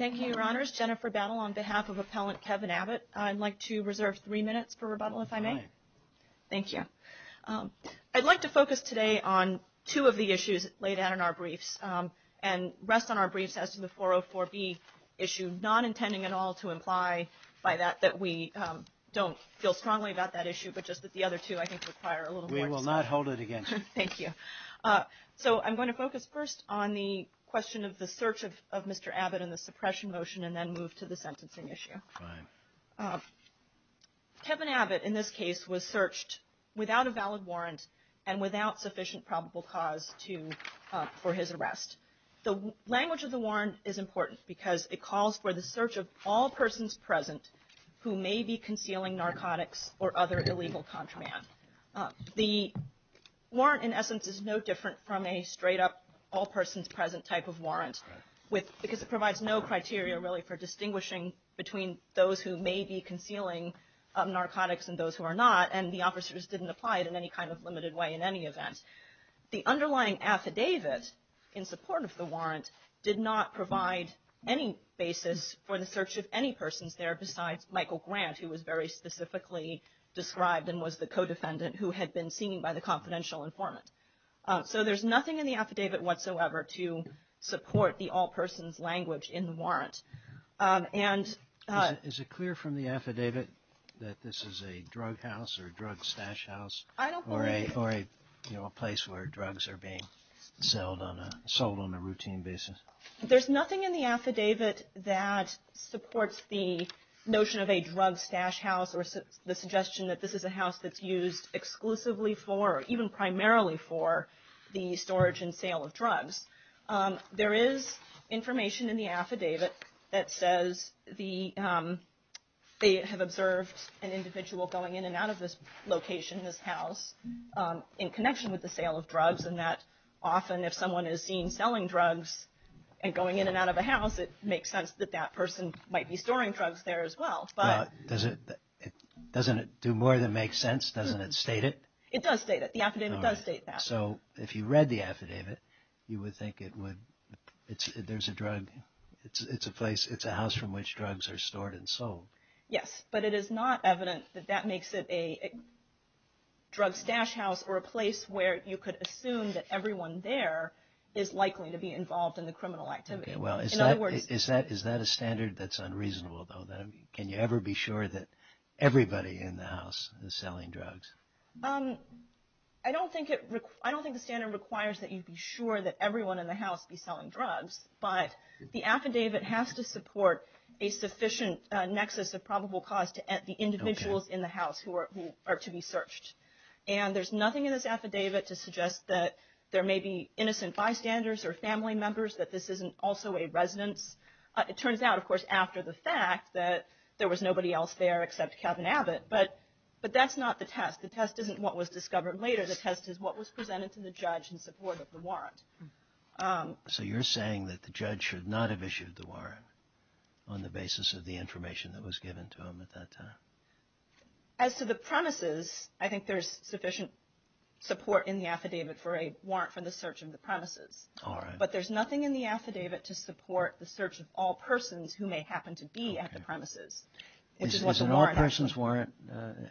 I'd like to reserve three minutes for rebuttal if I may. Thank you. I'd like to focus today on two of the issues laid out in our briefs and rest on our briefs as to the 404B issue, not intending at all to imply by that that we don't feel strongly about that issue, but just that the other two I think require a little more discussion. So I'm going to focus first on the question of the search of Mr. Abbott and the suppression motion and then move to the sentencing issue. Kevin Abbott in this case was searched without a valid warrant and without sufficient probable cause for his arrest. The language of the warrant is important because it calls for the search of all persons present who may be concealing narcotics or other illegal contraband. The warrant in essence is no different from a straight up all persons present type of warrant because it provides no criteria really for distinguishing between those who may be concealing narcotics and those who are not and the officers didn't apply it in any kind of limited way in any event. The underlying affidavit in support of the warrant did not provide any basis for the search of any persons there besides Michael Grant who was very specifically described and was the co-defendant who had been seen by the confidential informant. So there's nothing in the affidavit whatsoever to support the all persons language in the warrant. Is it clear from the affidavit that this is a drug house or a drug stash house? I don't believe it. Or a place where drugs are being sold on a routine basis? There's nothing in the affidavit that supports the notion of a drug stash house or the suggestion that this is a house that's used exclusively for or even primarily for the storage and sale of drugs. There is information in the affidavit that says they have observed an individual going in and out of this location, this house, in connection with the sale of drugs and that often if someone is seen selling drugs and going in and out of a house, it makes sense that that person might be storing drugs there as well. But doesn't it do more than make sense? Doesn't it state it? It does state it. The affidavit does state that. So if you read the affidavit, you would think it would, there's a drug, it's a place, it's a house from which drugs are stored and sold. Yes, but it is not evident that that makes it a drug stash house or a place where you could assume that everyone there is likely to be involved in the criminal activity. Well, is that a standard that's unreasonable, though? Can you ever be sure that everybody in the house is selling drugs? I don't think the standard requires that you be sure that everyone in the house be selling drugs, but the affidavit has to support a sufficient nexus of probable cause to the individuals in the house who are to be searched. And there's nothing in this affidavit to suggest that there may be innocent bystanders or family members, that this isn't also a residence. It turns out, of course, after the fact that there was nobody else there except Kevin Abbott, but that's not the test. The test isn't what was discovered later. The test is what was presented to the judge in support of the warrant. So you're saying that the judge should not have issued the warrant on the basis of the information that was given to him at that time? As to the premises, I think there's sufficient support in the affidavit for a warrant for the search of the premises. All right. But there's nothing in the affidavit to support the search of all persons who may happen to be at the premises. Is an all-persons warrant,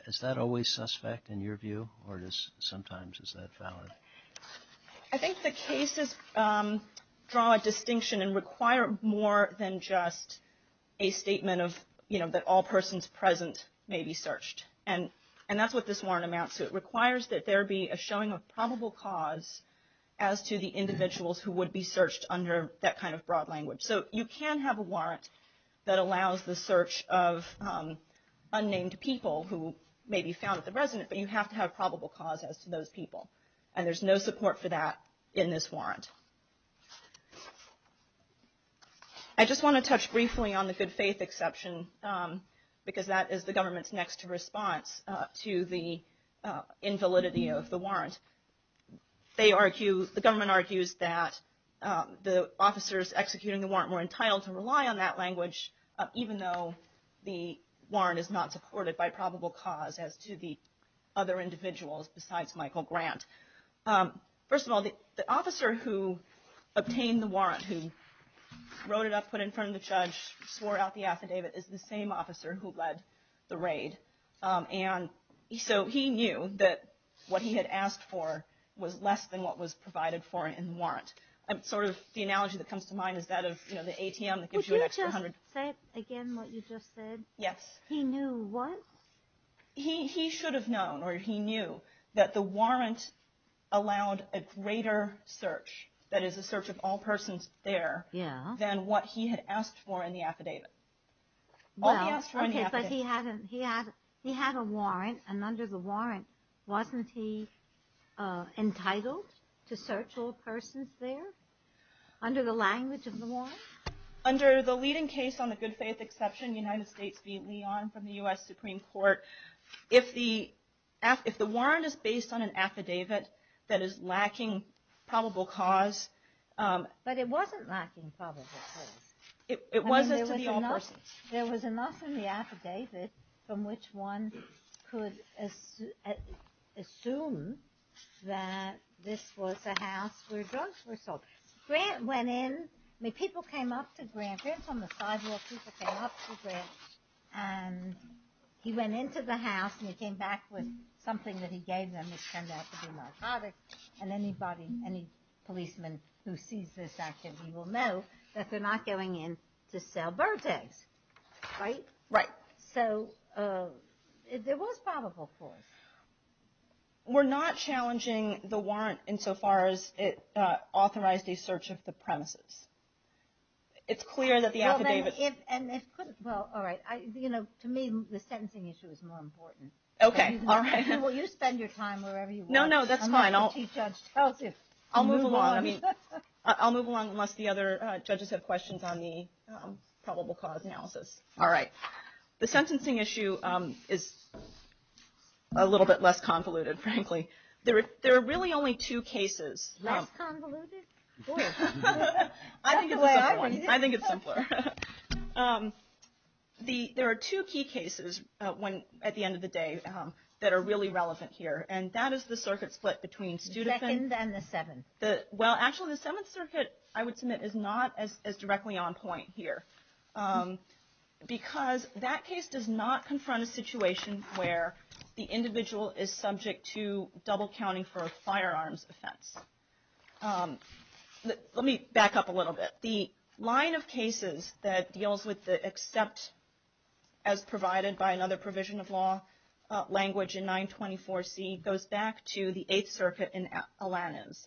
is that always suspect in your view, or just sometimes is that valid? I think the cases draw a distinction and require more than just a statement of, you know, that all persons present may be searched. And that's what this warrant amounts to. It requires that there be a showing of probable cause as to the individuals who would be searched under that kind of broad language. So you can have a warrant that allows the search of unnamed people who may be found at the residence, but you have to have probable cause as to those people. And there's no support for that in this warrant. I just want to touch briefly on the good faith exception, because that is the government's next response to the invalidity of the warrant. The government argues that the officers executing the warrant were entitled to rely on that language, even though the warrant is not supported by probable cause as to the other individuals besides Michael Grant. First of all, the officer who obtained the warrant, who wrote it up, put it in front of the judge, swore out the affidavit, is the same officer who led the raid. And so he knew that what he had asked for was less than what was provided for in the warrant. The analogy that comes to mind is that of the ATM that gives you an extra hundred. Would you just say again what you just said? Yes. He knew what? He should have known, or he knew, that the warrant allowed a greater search, that is a search of all persons there, than what he had asked for in the affidavit. Okay, but he had a warrant, and under the warrant, wasn't he entitled to search all persons there? Under the language of the warrant? Under the leading case on the good faith exception, United States v. Leon from the U.S. Supreme Court, if the warrant is based on an affidavit that is lacking probable cause... But it wasn't lacking probable cause. It wasn't to be all persons. There was enough in the affidavit from which one could assume that this was a house where drugs were sold. Grant went in. I mean, people came up to Grant. Grant's on the sidewalk. People came up to Grant. And he went into the house, and he came back with something that he gave them, which turned out to be narcotics. And anybody, any policeman who sees this activity will know that they're not going in to sell bird eggs, right? Right. So there was probable cause. We're not challenging the warrant insofar as it authorized a search of the premises. It's clear that the affidavit... Well, all right. You know, to me, the sentencing issue is more important. Okay, all right. Will you spend your time wherever you want? No, no, that's fine. I'll move along unless the other judges have questions on the probable cause analysis. All right. The sentencing issue is a little bit less convoluted, frankly. There are really only two cases. Less convoluted? I think it's simpler. There are two key cases at the end of the day that are really relevant here. And that is the circuit split between Studefin... The second and the seventh. Well, actually, the Seventh Circuit, I would submit, is not as directly on point here. Because that case does not confront a situation where the individual is subject to double counting for a firearms offense. Let me back up a little bit. The line of cases that deals with the except, as provided by another provision of law language in 924C, goes back to the Eighth Circuit in Alaniz.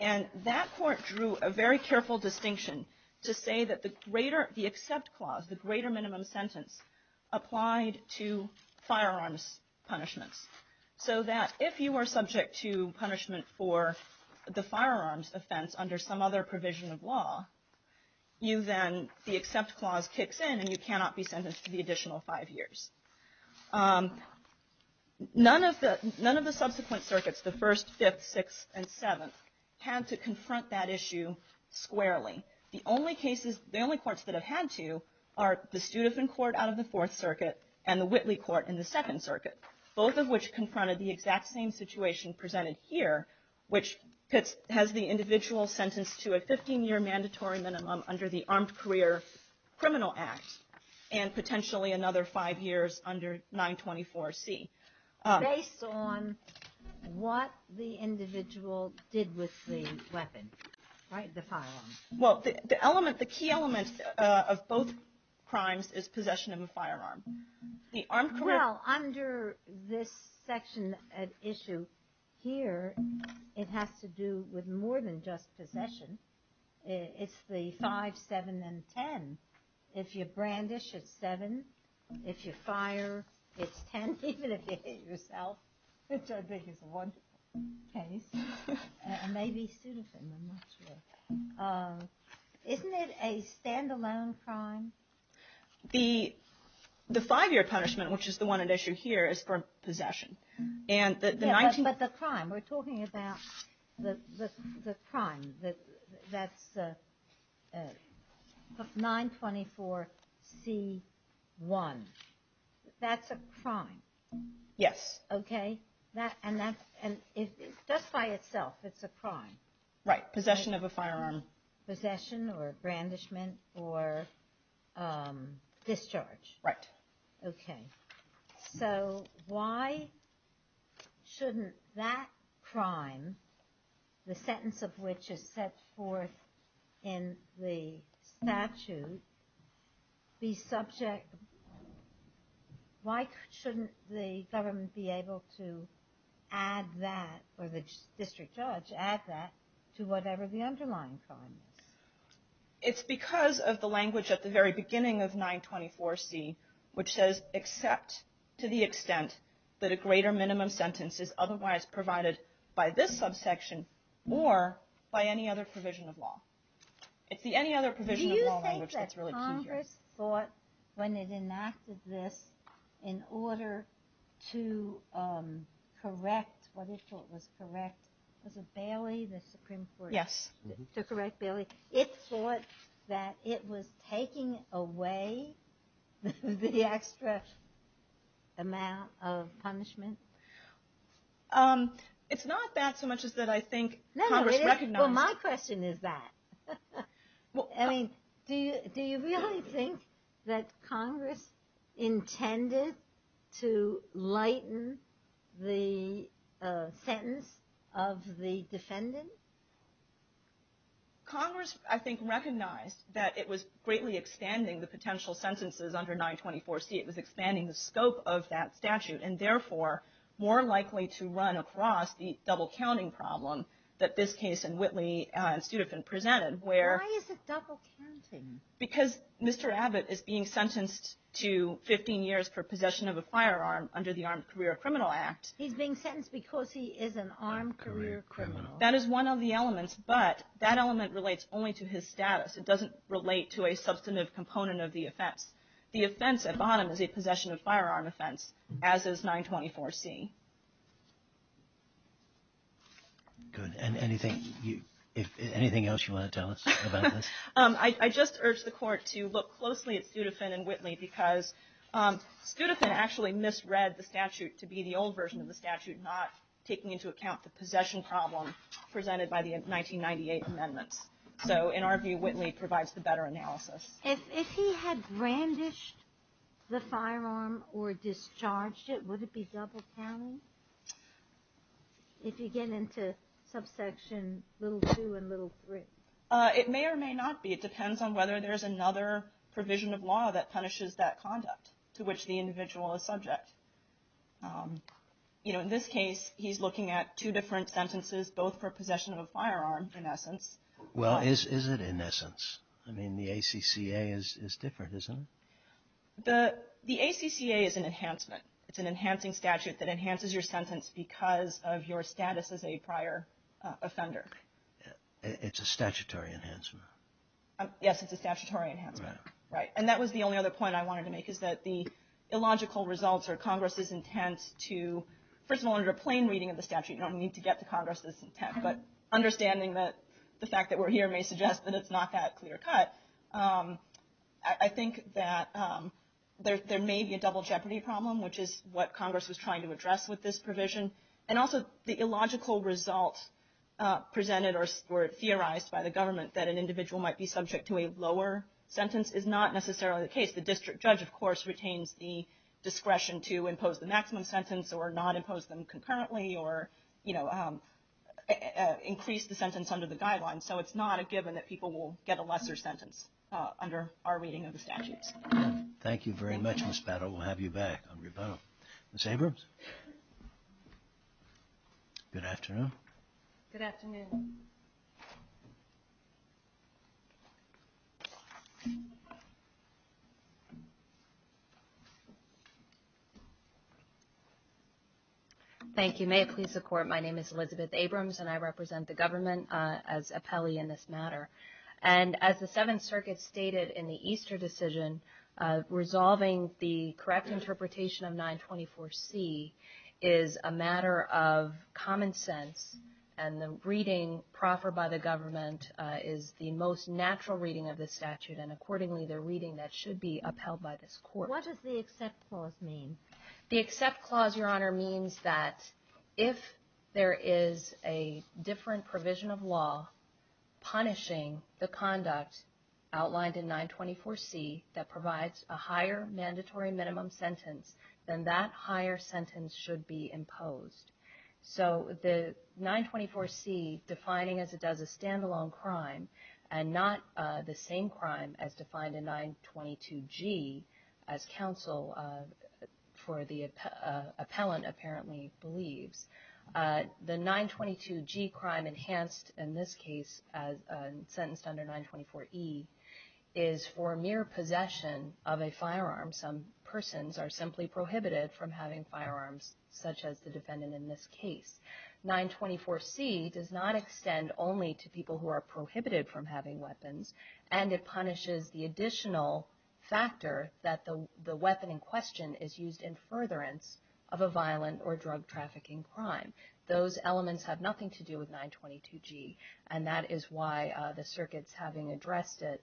And that court drew a very careful distinction to say that the accept clause, the greater minimum sentence, applied to firearms punishments. So that if you are subject to punishment for the firearms offense under some other provision of law, you then, the accept clause kicks in and you cannot be sentenced to the additional five years. None of the subsequent circuits, the First, Fifth, Sixth, and Seventh, had to confront that issue squarely. The only courts that have had to are the Studefin Court out of the Fourth Circuit and the Whitley Court in the Second Circuit. Both of which confronted the exact same situation presented here, which has the individual sentenced to a 15-year mandatory minimum under the Armed Career Criminal Act, and potentially another five years under 924C. Based on what the individual did with the weapon, right, the firearm? Well, the element, the key element of both crimes is possession of a firearm. Well, under this section at issue here, it has to do with more than just possession. It's the five, seven, and ten. If you brandish, it's seven. If you fire, it's ten, even if you hit yourself, which I think is a wonderful case. Maybe Studefin, I'm not sure. Isn't it a standalone crime? The five-year punishment, which is the one at issue here, is for possession. But the crime, we're talking about the crime that's 924C1. That's a crime. Yes. Okay? And just by itself, it's a crime. Right, possession of a firearm. Possession or brandishment or discharge. Right. Okay. So why shouldn't that crime, the sentence of which is set forth in the statute, be subject – why shouldn't the government be able to add that, or the district judge add that, to whatever the underlying crime is? It's because of the language at the very beginning of 924C, which says except to the extent that a greater minimum sentence is otherwise provided by this subsection or by any other provision of law. It's the any other provision of law language that's really key here. Congress thought when it enacted this in order to correct what it thought was correct, was it Bailey, the Supreme Court? Yes. To correct Bailey. It thought that it was taking away the extra amount of punishment? It's not that so much as that I think Congress recognized – No, no, it is. Well, my question is that. I mean, do you really think that Congress intended to lighten the sentence of the defendant? Congress, I think, recognized that it was greatly expanding the potential sentences under 924C. It was expanding the scope of that statute, and therefore more likely to run across the double-counting problem that this case and Whitley and Studefin presented where – Why is it double-counting? Because Mr. Abbott is being sentenced to 15 years for possession of a firearm under the Armed Career Criminal Act. He's being sentenced because he is an armed career criminal. That is one of the elements, but that element relates only to his status. It doesn't relate to a substantive component of the offense. The offense at the bottom is a possession of firearm offense, as is 924C. Good. And anything else you want to tell us about this? I just urge the Court to look closely at Studefin and Whitley because Studefin actually misread the statute to be the old version of the statute, not taking into account the possession problem presented by the 1998 amendments. So in our view, Whitley provides the better analysis. If he had brandished the firearm or discharged it, would it be double-counting? If you get into subsection little 2 and little 3. It may or may not be. It depends on whether there's another provision of law that punishes that conduct to which the individual is subject. You know, in this case, he's looking at two different sentences, both for possession of a firearm, in essence. Well, is it in essence? I mean, the ACCA is different, isn't it? The ACCA is an enhancement. It's an enhancing statute that enhances your sentence because of your status as a prior offender. It's a statutory enhancement. Yes, it's a statutory enhancement. Right. And that was the only other point I wanted to make, is that the illogical results are Congress's intent to, first of all, under plain reading of the statute, you don't need to get to Congress's intent, but understanding that the fact that we're here may suggest that it's not that clear cut. I think that there may be a double jeopardy problem, which is what Congress was trying to address with this provision. And also, the illogical results presented or theorized by the government that an individual might be subject to a lower sentence is not necessarily the case. The district judge, of course, retains the discretion to impose the maximum sentence or not impose them concurrently, or increase the sentence under the guidelines. So it's not a given that people will get a lesser sentence under our reading of the statutes. Thank you very much, Ms. Battle. We'll have you back on rebuttal. Ms. Abrams? Good afternoon. Good afternoon. Thank you. May it please the Court, my name is Elizabeth Abrams, and I represent the government as appellee in this matter. And as the Seventh Circuit stated in the Easter decision, resolving the correct interpretation of 924C is a matter of common sense, and the reading proffered by the government is the most natural reading of the statute, and accordingly the reading that should be upheld by this Court. What does the accept clause mean? The accept clause, Your Honor, means that if there is a different provision of law punishing the conduct outlined in 924C that provides a higher mandatory minimum sentence, then that higher sentence should be imposed. So the 924C, defining as it does a stand-alone crime, and not the same crime as defined in 922G as counsel for the appellant apparently believes, the 922G crime enhanced in this case as sentenced under 924E is for mere possession of a firearm. Some persons are simply prohibited from having firearms, such as the defendant in this case. 924C does not extend only to people who are prohibited from having weapons, and it punishes the additional factor that the weapon in question is used in furtherance of a violent or drug-trafficking crime. Those elements have nothing to do with 922G, and that is why the circuits, having addressed it,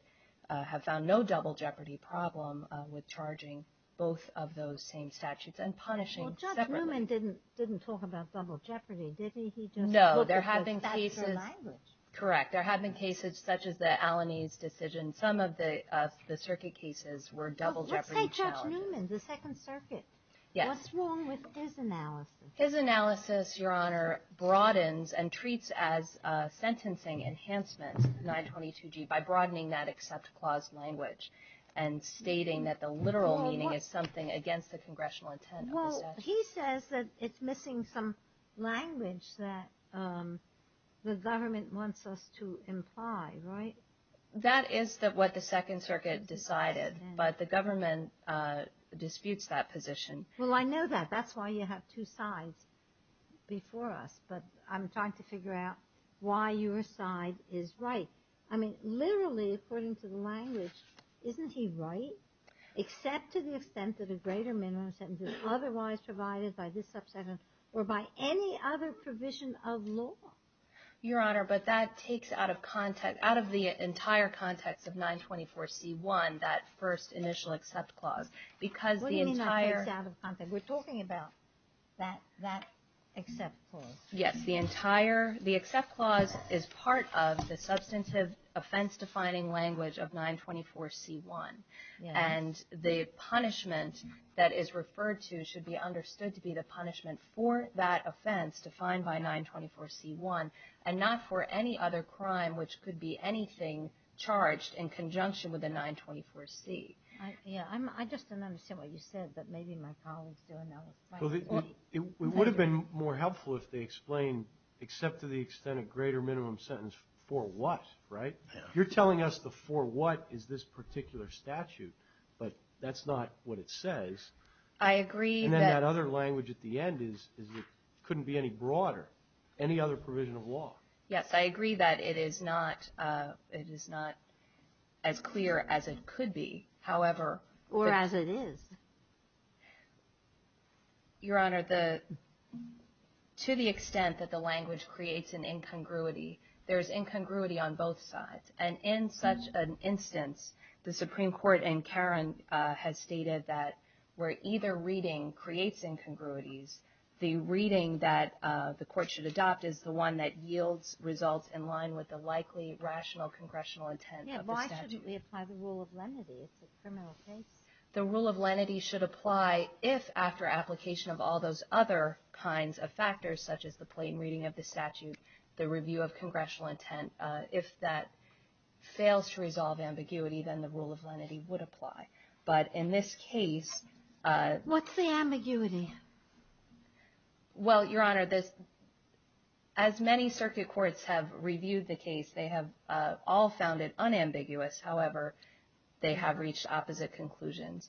have found no double jeopardy problem with charging both of those same statutes and punishing separately. Judge Newman didn't talk about double jeopardy, did he? No. There have been cases such as the Alanis decision. Some of the circuit cases were double jeopardy. Let's take Judge Newman, the Second Circuit. Yes. What's wrong with his analysis? His analysis, Your Honor, broadens and treats as sentencing enhancement 922G by broadening that except clause language and stating that the literal meaning is something against the congressional intent. Well, he says that it's missing some language that the government wants us to imply, right? That is what the Second Circuit decided, but the government disputes that position. Well, I know that. That's why you have two sides before us, but I'm trying to figure out why your side is right. I mean, literally, according to the language, isn't he right? Except to the extent that a greater minimum sentence is otherwise provided by this subsection or by any other provision of law. Your Honor, but that takes out of context, out of the entire context of 924C1, that first initial except clause, because the entire- What do you mean by takes out of context? We're talking about that except clause. Yes. The entire, the except clause is part of the substantive offense-defining language of 924C1. And the punishment that is referred to should be understood to be the punishment for that offense defined by 924C1 and not for any other crime which could be anything charged in conjunction with a 924C. I just don't understand what you said, but maybe my colleagues do. It would have been more helpful if they explained except to the extent a greater minimum sentence for what, right? You're telling us the for what is this particular statute, but that's not what it says. I agree that- Yes, I agree that it is not as clear as it could be. However- Or as it is. Your Honor, to the extent that the language creates an incongruity, there's incongruity on both sides. And in such an instance, the Supreme Court in Caron has stated that where either reading creates incongruities, the reading that the court should adopt is the one that yields results in line with the likely rational congressional intent of the statute. Yes, why shouldn't we apply the rule of lenity? It's a criminal case. The rule of lenity should apply if, after application of all those other kinds of factors, such as the plain reading of the statute, the review of congressional intent, if that fails to resolve ambiguity, then the rule of lenity would apply. But in this case- What's the ambiguity? Well, Your Honor, as many circuit courts have reviewed the case, they have all found it unambiguous. However, they have reached opposite conclusions.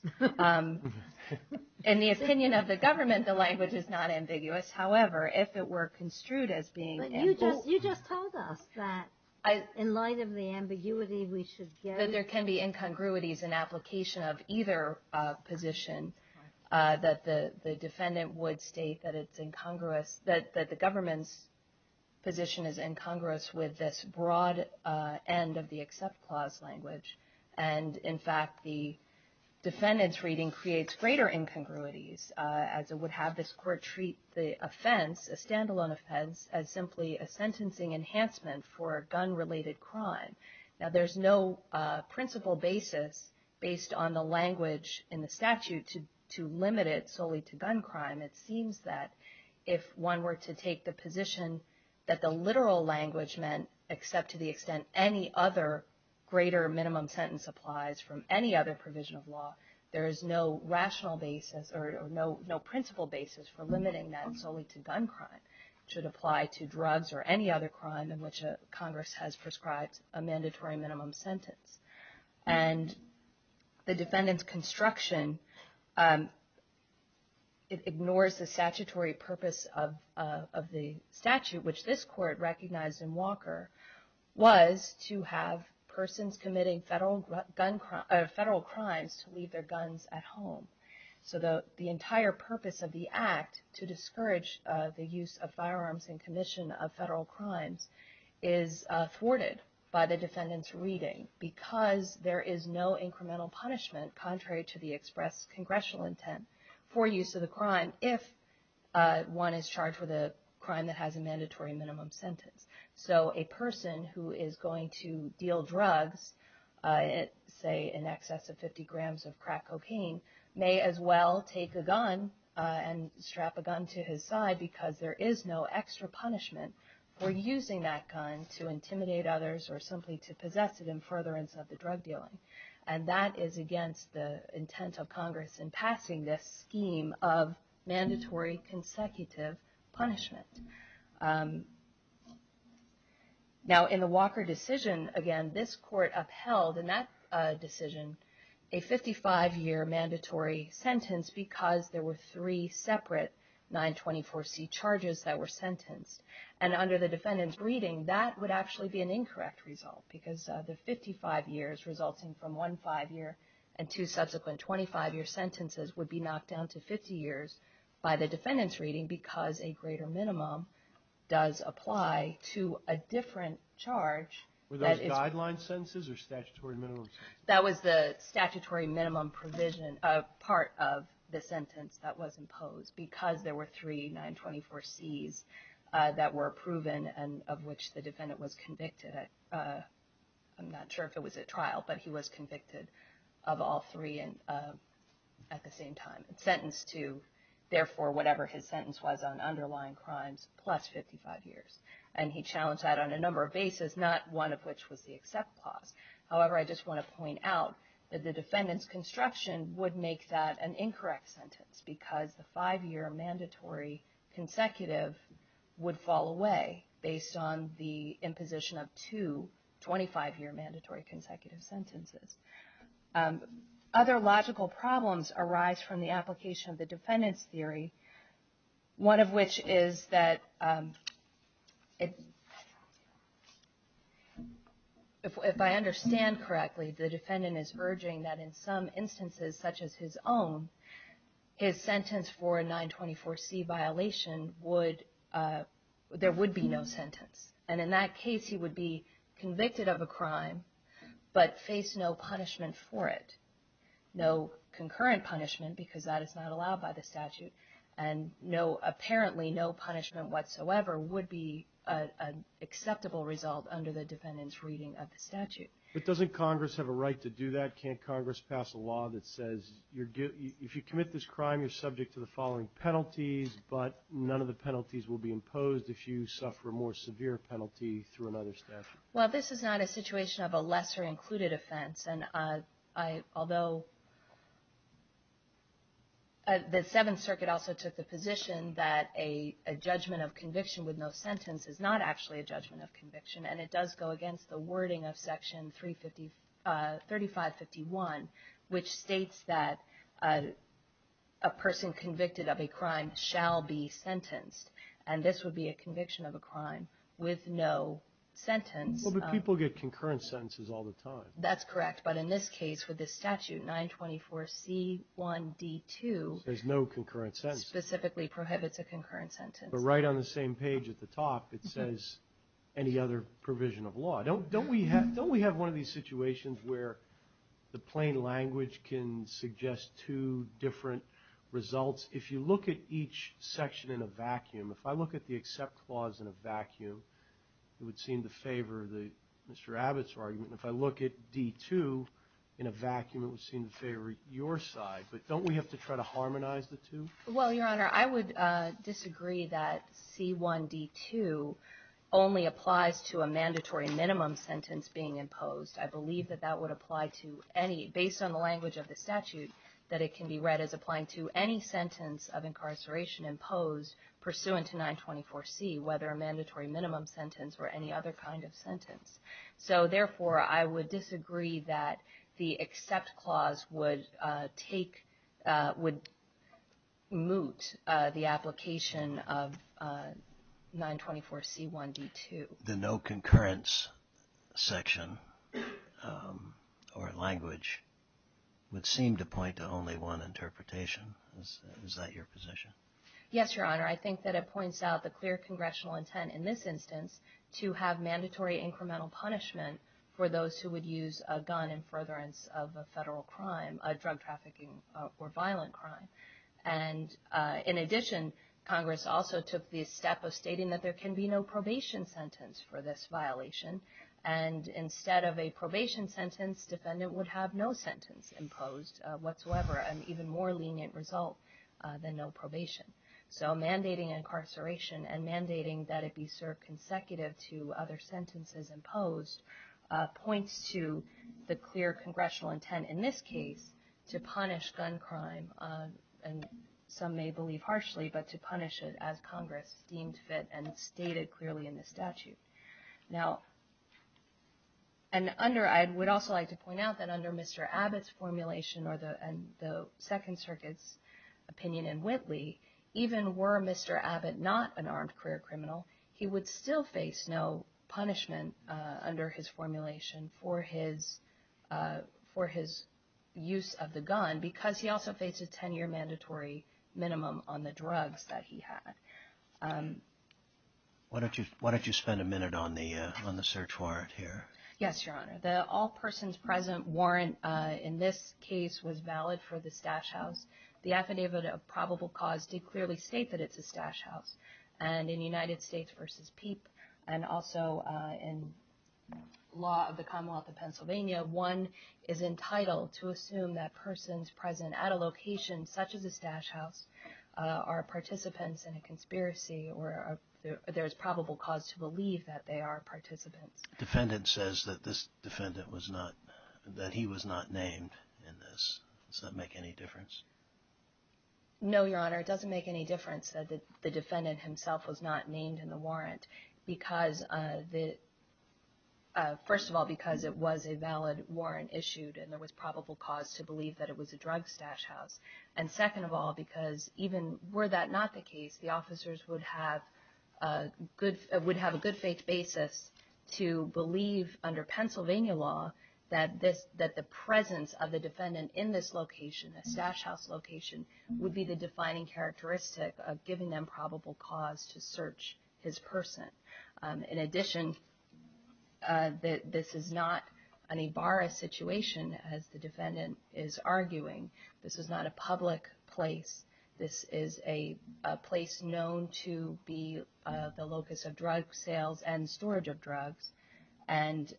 In the opinion of the government, the language is not ambiguous. However, if it were construed as being- But you just told us that in light of the ambiguity, we should get- There can be incongruities in application of either position, that the defendant would state that it's incongruous, that the government's position is incongruous with this broad end of the Accept Clause language. And, in fact, the defendant's reading creates greater incongruities, as it would have this court treat the offense, a standalone offense, as simply a sentencing enhancement for a gun-related crime. Now, there's no principle basis based on the language in the statute to limit it solely to gun crime. It seems that if one were to take the position that the literal language meant, except to the extent any other greater minimum sentence applies from any other provision of law, there is no rational basis or no principle basis for limiting that solely to gun crime. It should apply to drugs or any other crime in which Congress has prescribed a mandatory minimum sentence. And the defendant's construction ignores the statutory purpose of the statute, which this court recognized in Walker, was to have persons committing federal crimes to leave their guns at home. So the entire purpose of the act, to discourage the use of firearms in commission of federal crimes, is thwarted by the defendant's reading because there is no incremental punishment, contrary to the express congressional intent, for use of the crime, if one is charged with a crime that has a mandatory minimum sentence. So a person who is going to deal drugs, say in excess of 50 grams of crack cocaine, may as well take a gun and strap a gun to his side because there is no extra punishment for using that gun to intimidate others or simply to possess it in furtherance of the drug dealing. And that is against the intent of Congress in passing this scheme of mandatory consecutive punishment. Now in the Walker decision, again, this court upheld in that decision a 55-year mandatory sentence because there were three separate 924C charges that were sentenced. And under the defendant's reading, that would actually be an incorrect result because the 55 years resulting from one 5-year and two subsequent 25-year sentences would be knocked down to 50 years by the defendant's reading because a greater minimum does apply to a different charge. Were those guideline sentences or statutory minimum sentences? That was the statutory minimum provision part of the sentence that was imposed because there were three 924Cs that were proven and of which the defendant was convicted. I'm not sure if it was at trial, but he was convicted of all three at the same time. Sentenced to, therefore, whatever his sentence was on underlying crimes plus 55 years. And he challenged that on a number of bases, not one of which was the accept clause. However, I just want to point out that the defendant's construction would make that an incorrect sentence because the 5-year mandatory consecutive would fall away based on the imposition of two 25-year mandatory consecutive sentences. Other logical problems arise from the application of the defendant's theory, one of which is that if I understand correctly, the defendant is urging that in some instances such as his own, his sentence for a 924C violation would, there would be no sentence. And in that case, he would be convicted of a crime but face no punishment for it. No concurrent punishment because that is not allowed by the statute. And no, apparently no punishment whatsoever would be an acceptable result under the defendant's reading of the statute. But doesn't Congress have a right to do that? Can't Congress pass a law that says if you commit this crime, you're subject to the following penalties, but none of the penalties will be imposed if you suffer a more severe penalty through another statute? Well, this is not a situation of a lesser included offense. And although the Seventh Circuit also took the position that a judgment of conviction with no sentence is not actually a judgment of conviction, and it does go against the wording of Section 3551, which states that a person convicted of a crime shall be sentenced. And this would be a conviction of a crime with no sentence. Well, but people get concurrent sentences all the time. That's correct. But in this case, with this statute, 924C1D2. There's no concurrent sentence. Specifically prohibits a concurrent sentence. But right on the same page at the top, it says any other provision of law. Don't we have one of these situations where the plain language can suggest two different results? If you look at each section in a vacuum, if I look at the accept clause in a vacuum, it would seem to favor Mr. Abbott's argument. If I look at D2 in a vacuum, it would seem to favor your side. But don't we have to try to harmonize the two? Well, Your Honor, I would disagree that C1D2 only applies to a mandatory minimum sentence being imposed. I believe that that would apply to any, based on the language of the statute, that it can be read as applying to any sentence of incarceration imposed pursuant to 924C, whether a mandatory minimum sentence or any other kind of sentence. So, therefore, I would disagree that the accept clause would take, would moot the application of 924C1D2. The no concurrence section or language would seem to point to only one interpretation. Is that your position? Yes, Your Honor. I think that it points out the clear congressional intent in this instance to have mandatory incremental punishment for those who would use a gun in furtherance of a federal crime, a drug trafficking or violent crime. And in addition, Congress also took the step of stating that there can be no probation sentence for this violation. And instead of a probation sentence, defendant would have no sentence imposed whatsoever, an even more lenient result than no probation. So mandating incarceration and mandating that it be served consecutive to other sentences imposed points to the clear congressional intent in this case to punish gun crime, and some may believe harshly, but to punish it as Congress deemed fit and stated clearly in the statute. Now, and under, I would also like to point out that under Mr. Abbott's formulation or the Second Circuit's opinion in Whitley, even were Mr. Abbott not an armed career criminal, he would still face no punishment under his formulation for his, for his use of the gun because he also faced a 10-year mandatory minimum on the drugs that he had. Why don't you spend a minute on the search warrant here? Yes, Your Honor. The all persons present warrant in this case was valid for the stash house. The affidavit of probable cause did clearly state that it's a stash house. And in United States v. Peep and also in law of the Commonwealth of Pennsylvania, one is entitled to assume that persons present at a location such as a stash house are participants in a conspiracy or there is probable cause to believe that they are participants. Defendant says that this defendant was not, that he was not named in this. Does that make any difference? No, Your Honor, it doesn't make any difference that the defendant himself was not named in the warrant because the, first of all, because it was a valid warrant issued and there was probable cause to believe that it was a drug stash house. And second of all, because even were that not the case, the officers would have a good, would have a good faith basis to believe under Pennsylvania law that this, that the presence of the defendant in this location, a stash house location, would be the defining characteristic of giving them probable cause to search his person. In addition, this is not an Ibarra situation as the defendant is arguing. This is not a public place. This is a place known to be the locus of drug sales and storage of drugs. And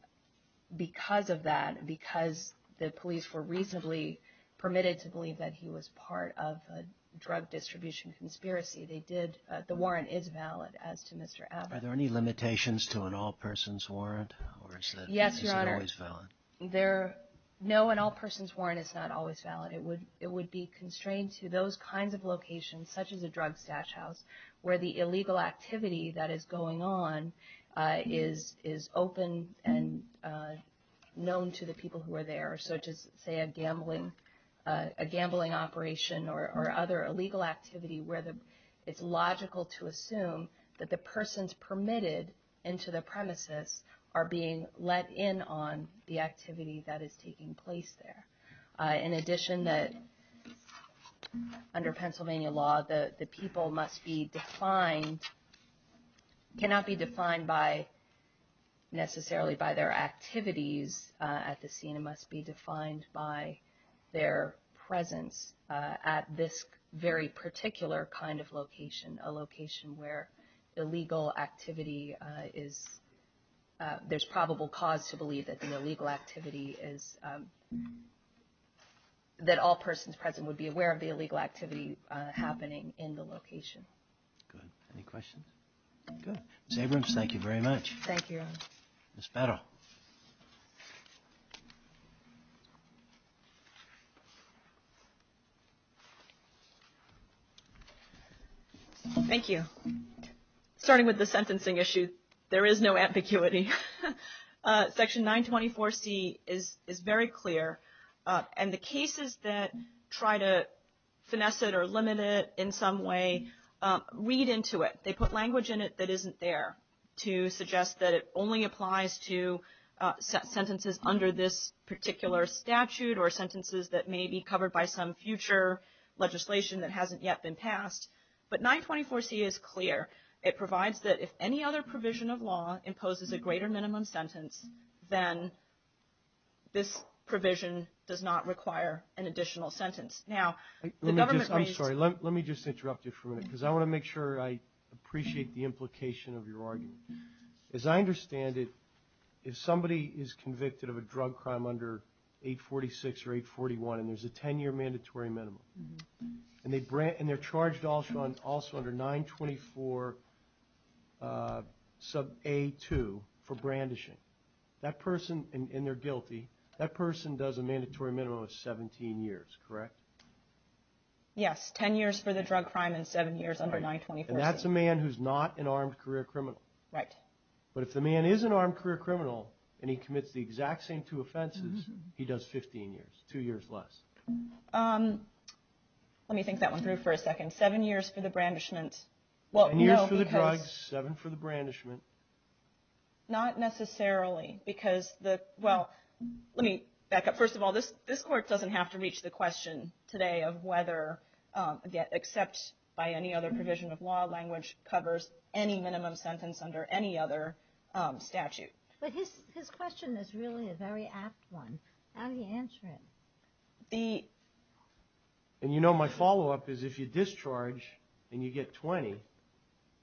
because of that, because the police were reasonably permitted to believe that he was part of a drug distribution conspiracy, they did, the warrant is valid as to Mr. Abbott. Are there any limitations to an all-persons warrant? Yes, Your Honor. Or is it always valid? There, no, an all-persons warrant is not always valid. It would, it would be constrained to those kinds of locations, such as a drug stash house, where the illegal activity that is going on is, is open and known to the people who are there. Or such as, say, a gambling, a gambling operation or other illegal activity where the, it's logical to assume that the persons permitted into the premises are being let in on the activity that is taking place there. In addition, that under Pennsylvania law, the people must be defined, cannot be defined by, necessarily by their activities at the scene. It must be defined by their presence at this very particular kind of location, a location where illegal activity is, there's probable cause to believe that the illegal activity is, that all persons present would be aware of the illegal activity happening in the location. Good. Any questions? Good. Ms. Abrams, thank you very much. Thank you, Your Honor. Ms. Petal. Thank you. Starting with the sentencing issue, there is no ambiguity. Section 924C is very clear. And the cases that try to finesse it or limit it in some way read into it. They put language in it that isn't there to suggest that it only applies to sentences under this particular statute or sentences that may be covered by some future legislation that hasn't yet been passed. But 924C is clear. It provides that if any other provision of law imposes a greater minimum sentence, then this provision does not require an additional sentence. Now, the government raised the question. I'm sorry. Let me just interrupt you for a minute because I want to make sure I appreciate the implication of your argument. As I understand it, if somebody is convicted of a drug crime under 846 or 841, and there's a 10-year mandatory minimum, and they're charged also under 924A2 for brandishing, that person, and they're guilty, that person does a mandatory minimum of 17 years, correct? Yes. Ten years for the drug crime and seven years under 924C. And that's a man who's not an armed career criminal. Right. But if the man is an armed career criminal and he commits the exact same two offenses, he does 15 years, two years less. Let me think that one through for a second. Seven years for the brandishment. Seven years for the drug, seven for the brandishment. Not necessarily because the – well, let me back up. First of all, this Court doesn't have to reach the question today of whether, except by any other provision of law, language covers any minimum sentence under any other statute. But his question is really a very apt one. How do you answer it? The – and you know my follow-up is if you discharge and you get 20,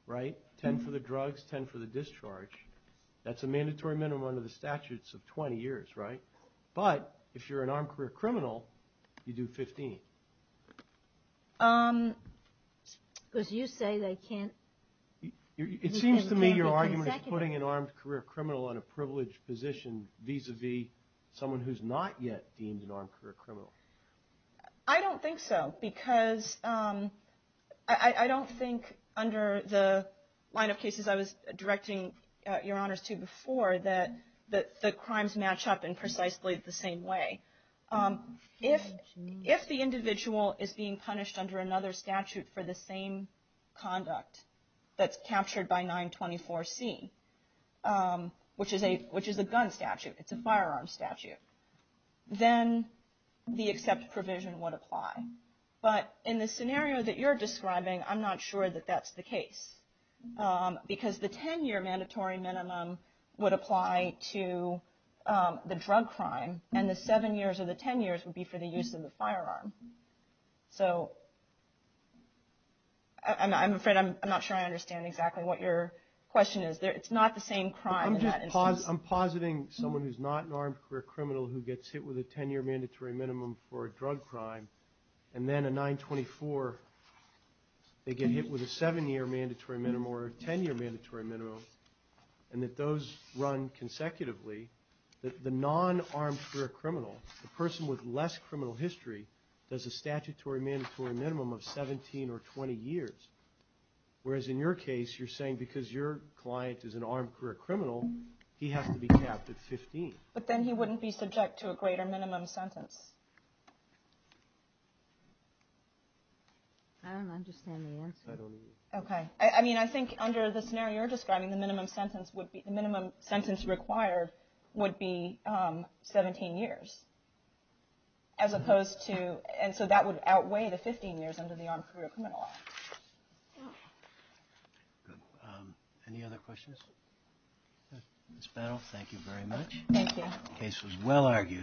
right, 10 for the drugs, 10 for the discharge, that's a mandatory minimum under the statutes of 20 years, right? But if you're an armed career criminal, you do 15. Because you say they can't – It seems to me your argument is putting an armed career criminal on a privileged position vis-à-vis someone who's not yet deemed an armed career criminal. I don't think so because I don't think under the line of cases I was directing your Honors to before that the crimes match up in precisely the same way. If the individual is being punished under another statute for the same conduct that's captured by 924C, which is a gun statute, it's a firearm statute, then the except provision would apply. But in the scenario that you're describing, I'm not sure that that's the case. Because the 10-year mandatory minimum would apply to the drug crime, and the seven years or the 10 years would be for the use of the firearm. So I'm afraid I'm not sure I understand exactly what your question is. It's not the same crime in that instance. I'm just – I'm positing someone who's not an armed career criminal who gets hit with a 10-year mandatory minimum for a drug crime, and then a 924, they get hit with a seven-year mandatory minimum or a 10-year mandatory minimum, and that those run consecutively. The non-armed career criminal, the person with less criminal history, does a statutory mandatory minimum of 17 or 20 years. Whereas in your case, you're saying because your client is an armed career criminal, he has to be capped at 15. But then he wouldn't be subject to a greater minimum sentence. I don't understand the answer. I don't either. Okay. I mean, I think under the scenario you're describing, the minimum sentence would be – the minimum sentence required would be 17 years as opposed to – and so that would outweigh the 15 years under the armed career criminal law. Good. Any other questions? Ms. Battle, thank you very much. Thank you. The case was well argued.